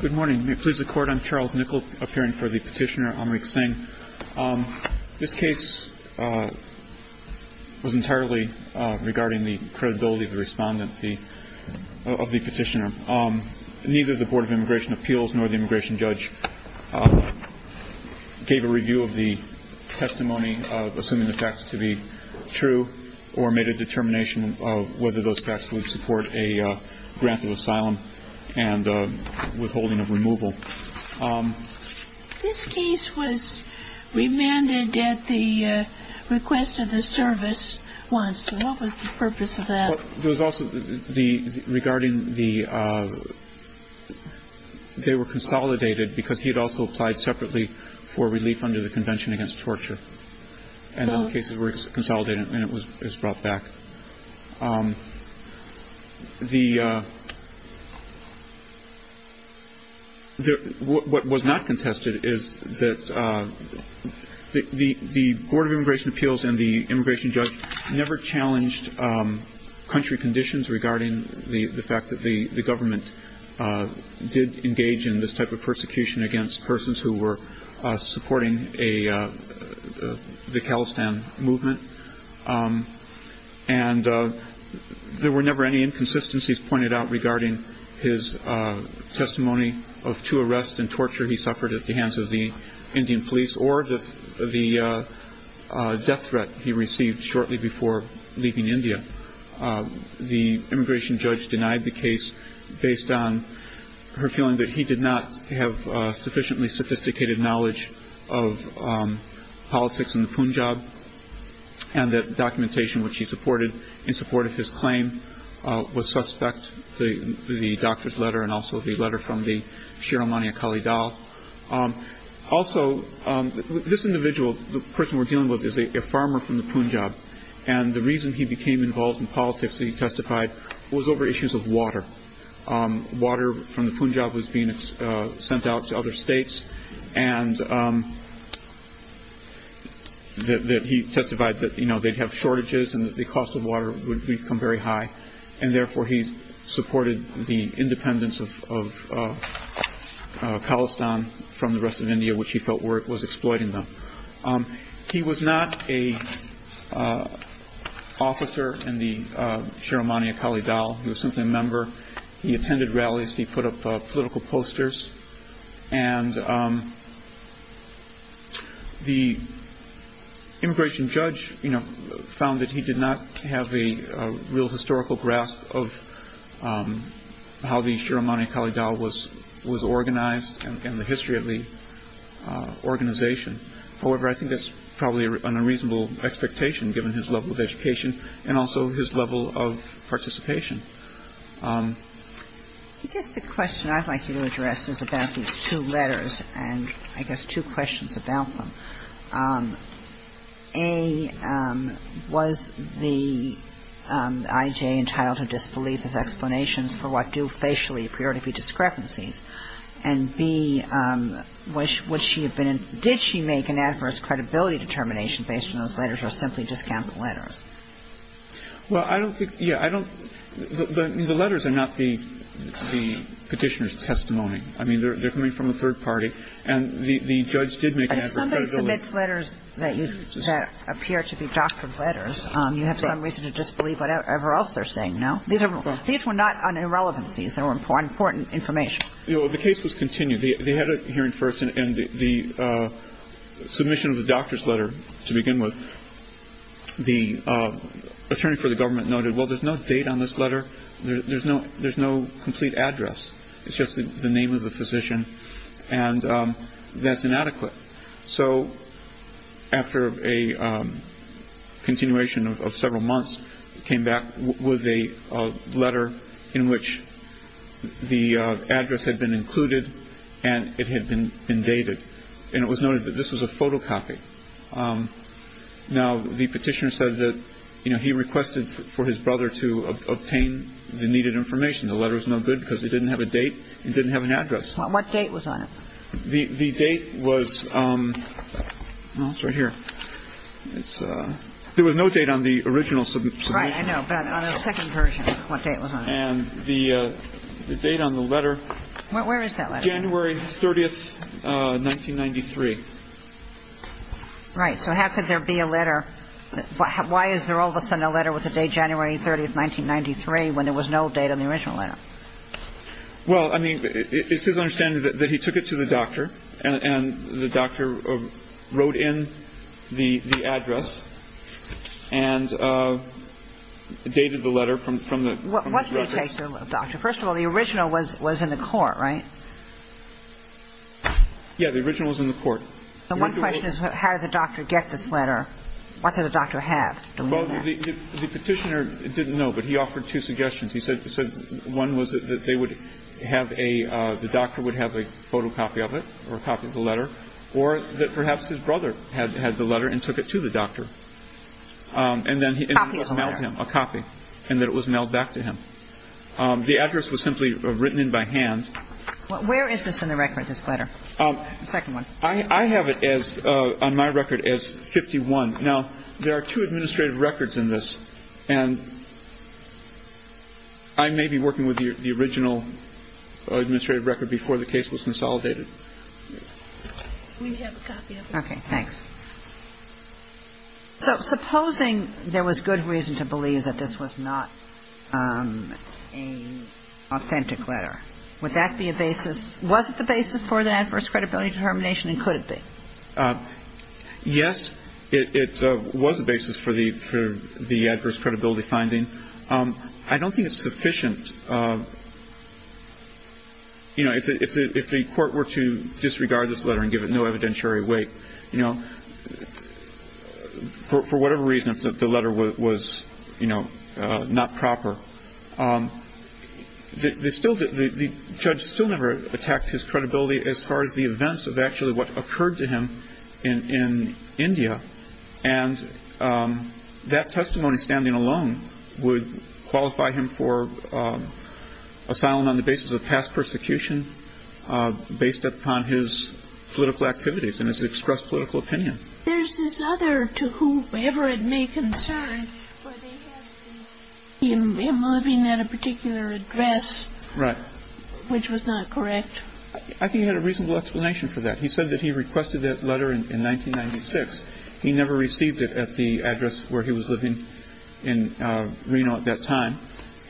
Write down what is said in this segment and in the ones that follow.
Good morning. May it please the Court, I'm Charles Nickel, appearing for the petitioner Amrik Singh. This case was entirely regarding the credibility of the respondent, of the petitioner. Neither the Board of Immigration Appeals nor the immigration judge gave a review of the testimony, assuming the facts to be true, or made a determination of whether those facts would support a grant of asylum. And withholding of removal. This case was remanded at the request of the service once, so what was the purpose of that? There was also the, regarding the, they were consolidated because he had also applied separately for relief under the Convention Against Torture. And the cases were consolidated and it was brought back. The, what was not contested is that the Board of Immigration Appeals and the immigration judge never challenged country conditions regarding the fact that the government did engage in this type of persecution against persons who were supporting a, the Khalistan movement. And there were never any inconsistencies pointed out regarding his testimony of two arrests and torture he suffered at the hands of the Indian police or the death threat he received shortly before leaving India. The immigration judge denied the case based on her feeling that he did not have sufficiently sophisticated knowledge of politics in the Punjab. And that documentation which he supported in support of his claim was suspect. The doctor's letter and also the letter from the Shir Amani Akali Dal. Also, this individual, the person we're dealing with, is a farmer from the Punjab. And the reason he became involved in politics, he testified, was over issues of water. Water from the Punjab was being sent out to other states. And that he testified that, you know, they'd have shortages and that the cost of water would become very high. And therefore, he supported the independence of Khalistan from the rest of India, which he felt was exploiting them. He was not an officer in the Shir Amani Akali Dal. He was simply a member. He attended rallies. He put up political posters. And the immigration judge, you know, found that he did not have a real historical grasp of how the Shir Amani Akali Dal was organized and the history of the organization. However, I think that's probably an unreasonable expectation given his level of education and also his level of participation. I guess the question I'd like you to address is about these two letters and I guess two questions about them. A, was the IJ entitled to disbelief as explanations for what do facially appear to be discrepancies? And B, did she make an adverse credibility determination based on those letters or simply discount the letters? Well, I don't think the letters are not the Petitioner's testimony. I mean, they're coming from a third party. And the judge did make an adverse credibility. If somebody submits letters that appear to be doctored letters, you have some reason to disbelieve whatever else they're saying, no? These were not on irrelevancies. They were important information. The case was continued. They had a hearing first and the submission of the doctor's letter to begin with, the attorney for the government noted, well, there's no date on this letter. There's no complete address. It's just the name of the physician. And that's inadequate. So after a continuation of several months, came back with a letter in which the address had been included and it had been dated. And it was noted that this was a photocopy. Now, the Petitioner said that, you know, he requested for his brother to obtain the needed information. The letter was no good because it didn't have a date. It didn't have an address. What date was on it? The date was, well, it's right here. There was no date on the original submission. Right. I know. But on the second version, what date was on it? And the date on the letter. Where is that letter? January 30th, 1993. Right. So how could there be a letter? Why is there all of a sudden a letter with the date January 30th, 1993, when there was no date on the original letter? Well, I mean, it's his understanding that he took it to the doctor and the doctor wrote in the address and dated the letter from the record. What's the case, Doctor? First of all, the original was in the court, right? Yeah. The original was in the court. So one question is how did the doctor get this letter? What did the doctor have? Well, the Petitioner didn't know, but he offered two suggestions. He said one was that they would have a the doctor would have a photocopy of it or a copy of the letter or that perhaps his brother had the letter and took it to the doctor. And then he emailed him a copy and that it was mailed back to him. The address was simply written in by hand. Where is this in the record, this letter, the second one? I have it on my record as 51. Now, there are two administrative records in this. And I may be working with the original administrative record before the case was consolidated. We have a copy of it. Okay. Thanks. So supposing there was good reason to believe that this was not an authentic letter, would that be a basis? Was it the basis for the adverse credibility determination and could it be? Yes, it was a basis for the adverse credibility finding. I don't think it's sufficient. You know, if the court were to disregard this letter and give it no evidentiary weight, you know, for whatever reason, if the letter was, you know, not proper, the judge still never attacked his credibility as far as the events of actually what occurred to him in India. And that testimony standing alone would qualify him for asylum on the basis of past persecution, based upon his political activities and his expressed political opinion. There's this other, to whoever it may concern, where they have him living at a particular address. Right. Which was not correct. I think he had a reasonable explanation for that. He said that he requested that letter in 1996. He never received it at the address where he was living in Reno at that time.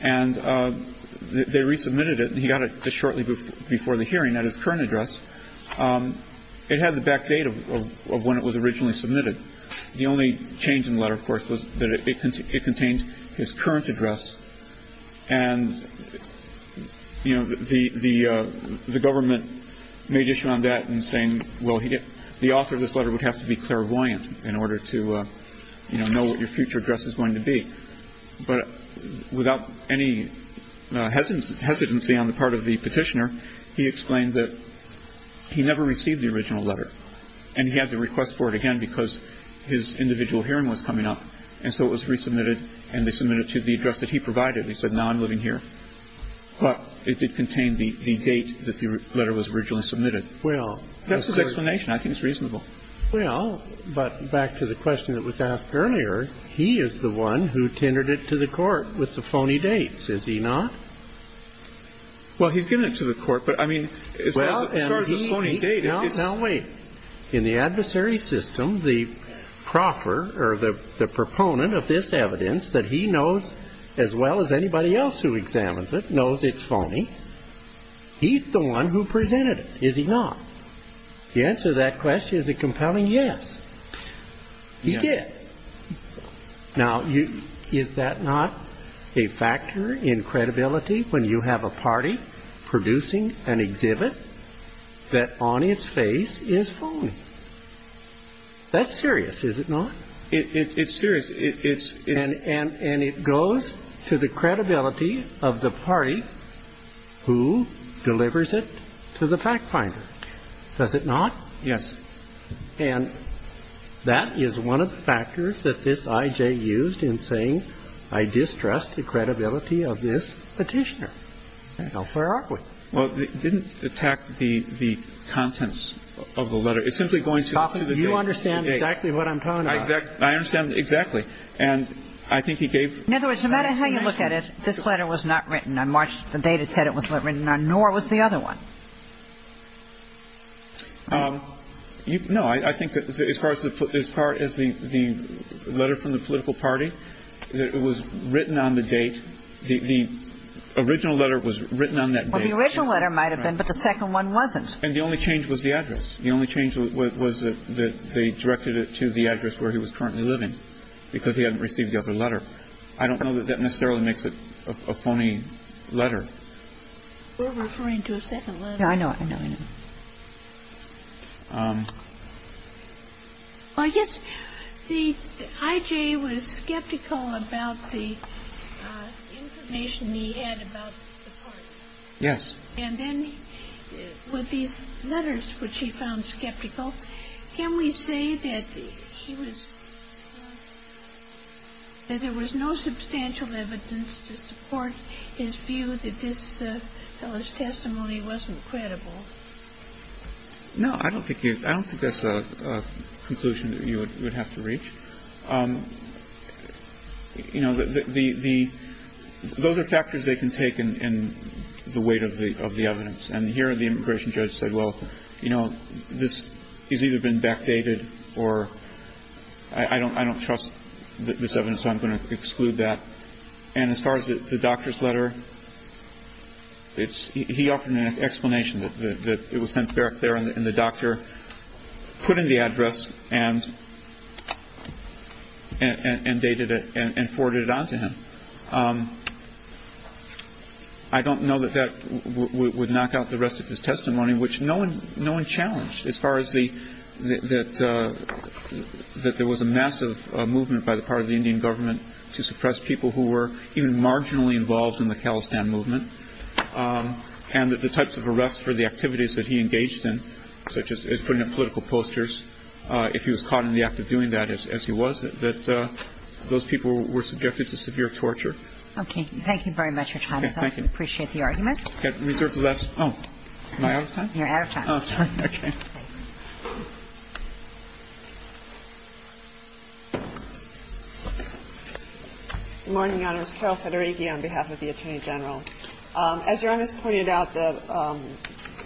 And they resubmitted it and he got it just shortly before the hearing at his current address. It had the back date of when it was originally submitted. The only change in the letter, of course, was that it contained his current address. And, you know, the government made issue on that in saying, well, the author of this letter would have to be clairvoyant in order to, you know, know what your future address is going to be. But without any hesitancy on the part of the petitioner, he explained that he never received the original letter. And he had to request for it again because his individual hearing was coming up. And so it was resubmitted and they submitted it to the address that he provided. He said, now I'm living here. But it did contain the date that the letter was originally submitted. Well, that's the explanation. I think it's reasonable. Well, but back to the question that was asked earlier, he is the one who tendered it to the court with the phony dates, is he not? Well, he's given it to the court. But, I mean, as far as the phony date, it's... Well, now wait. In the adversary system, the proffer or the proponent of this evidence that he knows as well as anybody else who examines it knows it's phony, he's the one who presented it. Is he not? To answer that question, is it compelling? Yes. He did. Now, is that not a factor in credibility when you have a party producing an exhibit that on its face is phony? That's serious, is it not? It's serious. And it goes to the credibility of the party who delivers it to the fact finder, does it not? Yes. And that is one of the factors that this I.J. used in saying, I distrust the credibility of this Petitioner. Now, where are we? Well, it didn't attack the contents of the letter. It's simply going to... You understand exactly what I'm talking about. I understand exactly. And I think he gave... In other words, no matter how you look at it, this letter was not written on March, the date it said it was written on, nor was the other one. No, I think that as far as the letter from the political party, it was written on the date. The original letter was written on that date. Well, the original letter might have been, but the second one wasn't. And the only change was the address. The only change was that they directed it to the address where he was currently living because he hadn't received the other letter. I don't know that that necessarily makes it a phony letter. We're referring to a second letter. Well, yes. The I.J. was skeptical about the information he had about the party. Yes. And then with these letters, which he found skeptical, can we say that he was... that there was no substantial evidence to support his view that this fellow's testimony wasn't true? No, I don't think that's a conclusion that you would have to reach. You know, the – those are factors they can take in the weight of the evidence. And here the immigration judge said, well, you know, this has either been backdated or I don't trust this evidence, so I'm going to exclude that. And as far as the doctor's letter, he offered an explanation that it was sent back there and the doctor put in the address and dated it and forwarded it on to him. I don't know that that would knock out the rest of his testimony, which no one challenged as far as the – that there was a massive movement by the part of the Indian government to suppress people who were even marginally involved in the Khalistan movement and that the types of arrests for the activities that he engaged in, such as putting up political posters, if he was caught in the act of doing that, as he was, that those people were subjected to severe torture. Okay. Thank you very much, Your Honor. Thank you. I appreciate the argument. Okay. Reserves of that. Oh. Am I out of time? You're out of time. Oh, sorry. Okay. Good morning, Your Honors. Carol Federighi on behalf of the Attorney General. As Your Honors pointed out, the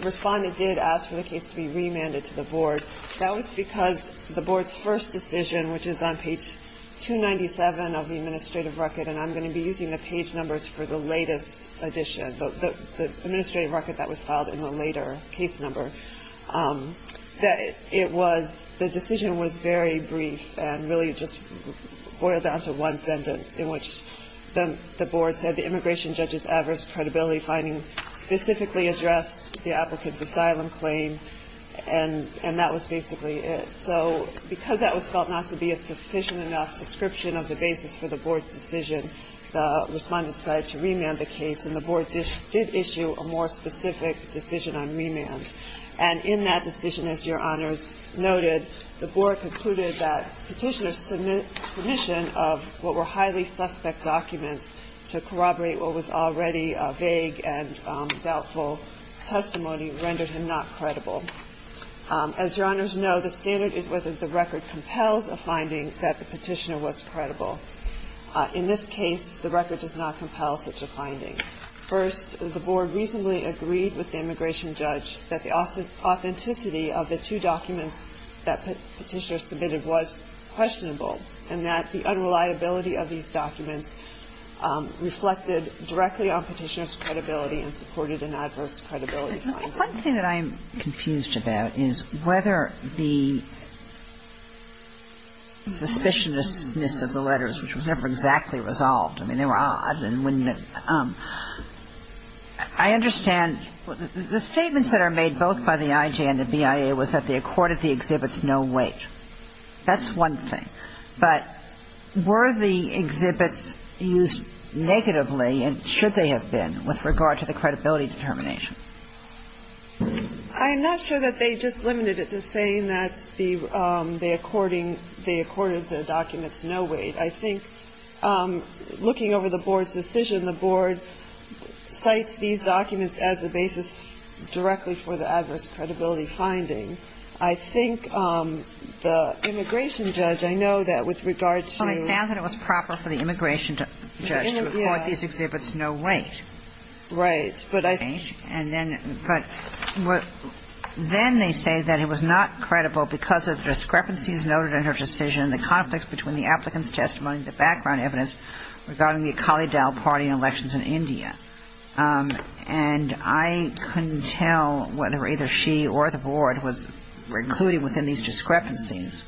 Respondent did ask for the case to be remanded to the Board. That was because the Board's first decision, which is on page 297 of the administrative record, and I'm going to be using the page numbers for the latest edition, the administrative record that was filed in the later case number, that it was the decision was very brief and really just boiled down to one sentence in which the Board said the immigration judge's adverse credibility finding specifically addressed the applicant's asylum claim and that was basically it. So because that was felt not to be a sufficient enough description of the basis for the Board's decision, the Respondent decided to remand the case, and the Board did issue a more specific decision on remand. And in that decision, as Your Honors noted, the Board concluded that petitioner's submission of what were highly suspect documents to corroborate what was already a vague and doubtful testimony rendered him not credible. As Your Honors know, the standard is whether the record compels a finding that the petitioner was credible. In this case, the record does not compel such a finding. First, the Board reasonably agreed with the immigration judge that the authenticity of the two documents that petitioner submitted was questionable and that the unreliability of these documents reflected directly on petitioner's credibility and supported an adverse credibility finding. The one thing that I'm confused about is whether the suspicionousness of the letters, which was never exactly resolved, I mean, they were odd and wouldn't I understand the statements that are made both by the IJ and the BIA was that they accorded the exhibits no weight. That's one thing. But were the exhibits used negatively, and should they have been, with regard to the credibility determination? I'm not sure that they just limited it to saying that they according the documents no weight. I think looking over the Board's decision, the Board cites these documents as the basis directly for the adverse credibility finding. I think the immigration judge, I know that with regard to the BIA. But I think the BIA and the IJ would have said that the exhibits no weight. And then they say that it was not credible because of discrepancies noted in her decision, the conflicts between the applicant's testimony, the background evidence regarding the Akali Dal party and elections in India. And I couldn't tell whether either she or the Board was recluding within these considerations.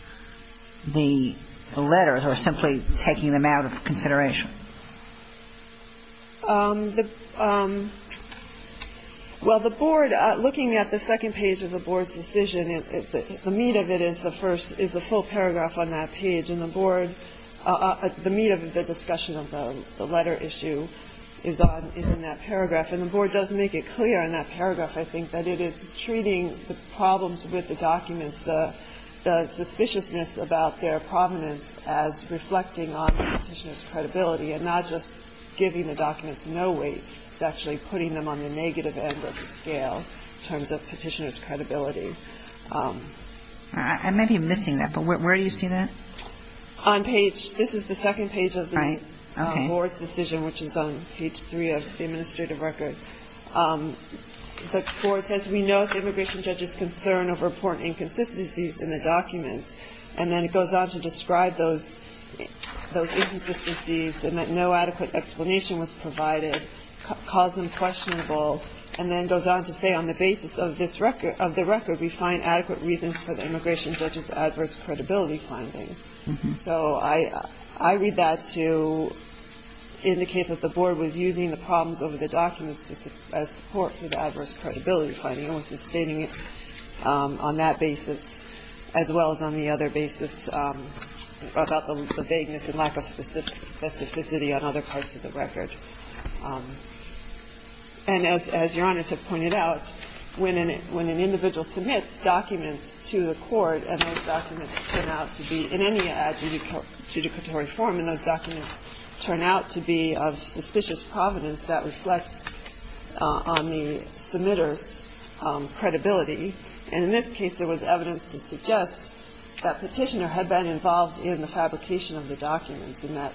Well, the Board, looking at the second page of the Board's decision, the meat of it is the first, is the full paragraph on that page. And the Board, the meat of the discussion of the letter issue is on, is in that paragraph. And the Board does make it clear in that paragraph, I think, that it is treating the problems with the documents, the suspiciousness about their provenance as reflecting on the Petitioner's credibility and not just giving the documents no weight. It's actually putting them on the negative end of the scale in terms of Petitioner's credibility. I may be missing that. But where do you see that? On page, this is the second page of the Board's decision, which is on page three of the administrative record. The Board says, we note the immigration judge's concern over important inconsistencies in the documents. And then it goes on to describe those inconsistencies and that no adequate explanation was provided, caused them questionable, and then goes on to say, on the basis of this record, of the record, we find adequate reasons for the immigration judge's adverse credibility finding. So I read that to indicate that the Board was using the problems over the documents as support for the adverse credibility finding and was sustaining it on that basis as well as on the other basis about the vagueness and lack of specificity on other parts of the record. And as Your Honors have pointed out, when an individual submits documents to the court and those documents turn out to be in any adjudicatory form and those documents turn out to be of suspicious provenance, that reflects on the submitter's credibility. And in this case, there was evidence to suggest that Petitioner had been involved in the fabrication of the documents and that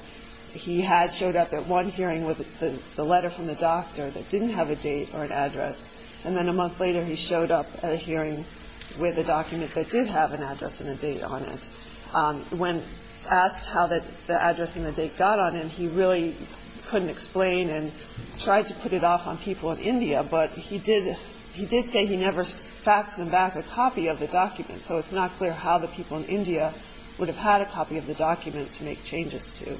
he had showed up at one hearing with the letter from the doctor that didn't have a date or an address. And then a month later, he showed up at a hearing with a document that did have an address and a date on it. When asked how the address and the date got on him, he really couldn't explain and tried to put it off on people in India. But he did say he never faxed them back a copy of the document. So it's not clear how the people in India would have had a copy of the document to make changes to.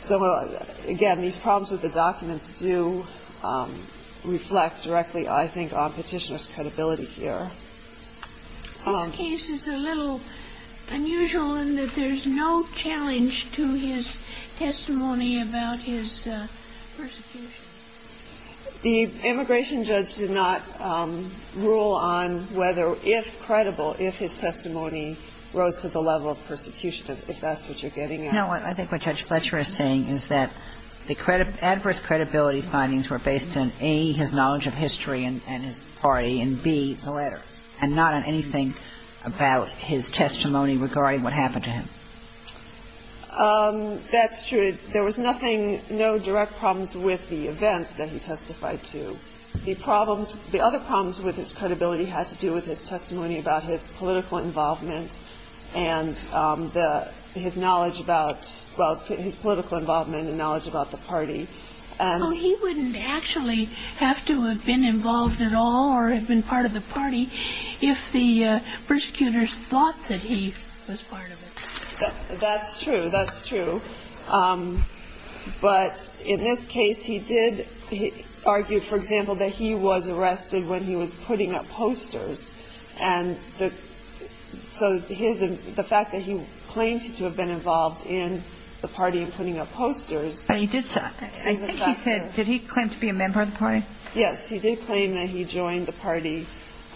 So, again, these problems with the documents do reflect directly, I think, on Petitioner's credibility here. This case is a little unusual in that there's no challenge to his testimony about his persecution. The immigration judge did not rule on whether, if credible, if his testimony rose to the level of persecution, if that's what you're getting at. No. I think what Judge Fletcher is saying is that the adverse credibility findings were based on, A, his knowledge of history and his party, and, B, the letters, and not on anything about his testimony regarding what happened to him. That's true. There was nothing, no direct problems with the events that he testified to. The other problems with his credibility had to do with his testimony about his political involvement and his knowledge about, well, his political involvement and knowledge about the party. Well, he wouldn't actually have to have been involved at all or have been part of the party if the persecutors thought that he was part of it. That's true. That's true. But in this case, he did argue, for example, that he was arrested when he was putting up posters. And so the fact that he claimed to have been involved in the party and putting up posters is a factor. I think he said, did he claim to be a member of the party? Yes. He did claim that he joined the party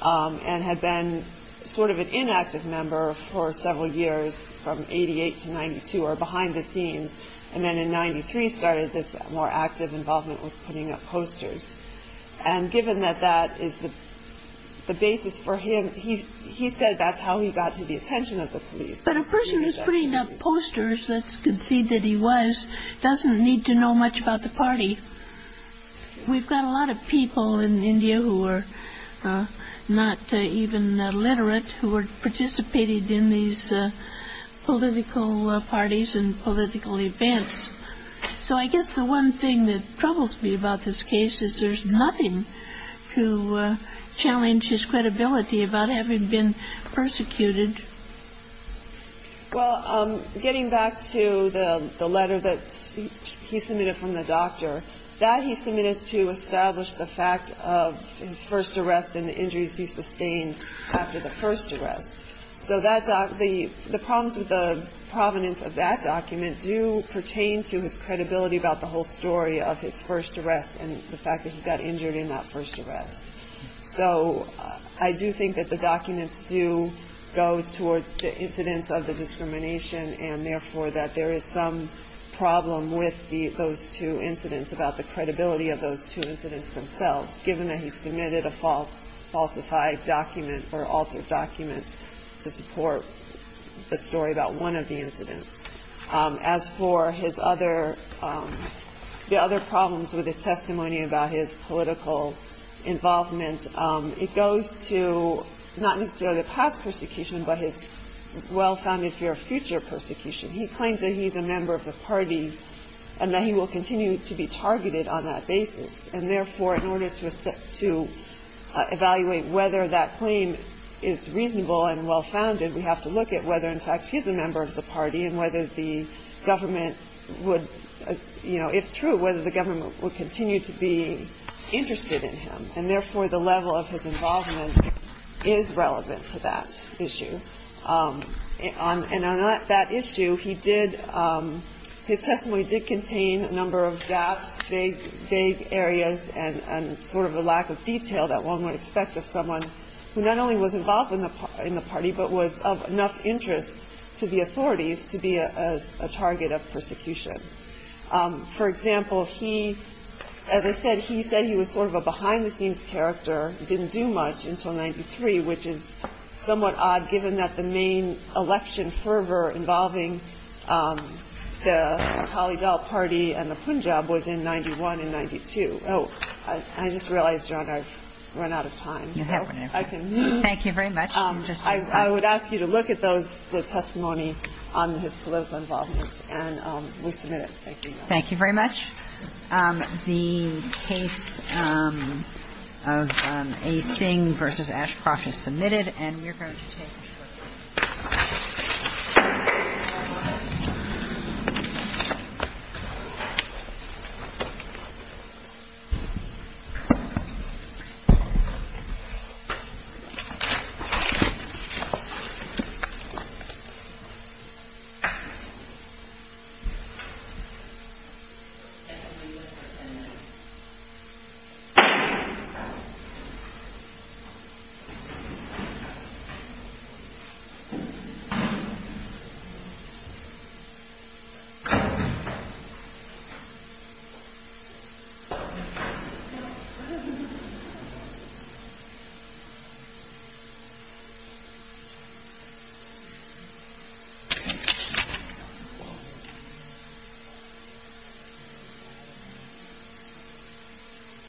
and had been sort of an inactive member for several years, from 88 to 92, or behind the scenes, and then in 93 started this more active involvement with putting up posters. And given that that is the basis for him, he said that's how he got to the attention of the police. But a person who's putting up posters that concede that he was doesn't need to know much about the party. We've got a lot of people in India who are not even literate who were participating in these political parties and political events. So I guess the one thing that troubles me about this case is there's nothing to challenge his credibility about having been persecuted. Well, getting back to the letter that he submitted from the doctor, that he submitted to establish the fact of his first arrest and the injuries he sustained after the first arrest. So the problems with the provenance of that document do pertain to his credibility about the whole story of his first arrest and the fact that he got injured in that first arrest. So I do think that the documents do go towards the incidents of the discrimination and, therefore, that there is some problem with those two incidents about the credibility of those two incidents themselves, given that he submitted a falsified document or altered document to support the story about one of the incidents. As for his other problems with his testimony about his political involvement, it goes to not necessarily the past persecution, but his well-founded fear of future persecution. He claims that he's a member of the party and that he will continue to be targeted on that basis. And, therefore, in order to evaluate whether that claim is reasonable and well-founded, we have to look at whether, in fact, he's a member of the party and whether the government would, you know, if true, whether the government would continue to be interested in him. And, therefore, the level of his involvement is relevant to that issue. And on that issue, he did – his testimony did contain a number of gaps, vague areas, and sort of a lack of detail that one would expect of someone who not only was involved in the party but was of enough interest to the authorities to be a target of persecution. For example, he – as I said, he said he was sort of a behind-the-scenes character, didn't do much until 1993, which is somewhat odd given that the main I just realized, Your Honor, I've run out of time. So I can move. Thank you very much. I would ask you to look at those – the testimony on his political involvement and we'll submit it. Thank you, Your Honor. Thank you very much. The case of A. Singh v. Ashcroft is submitted. And we're going to take a short break. Thank you. Thank you.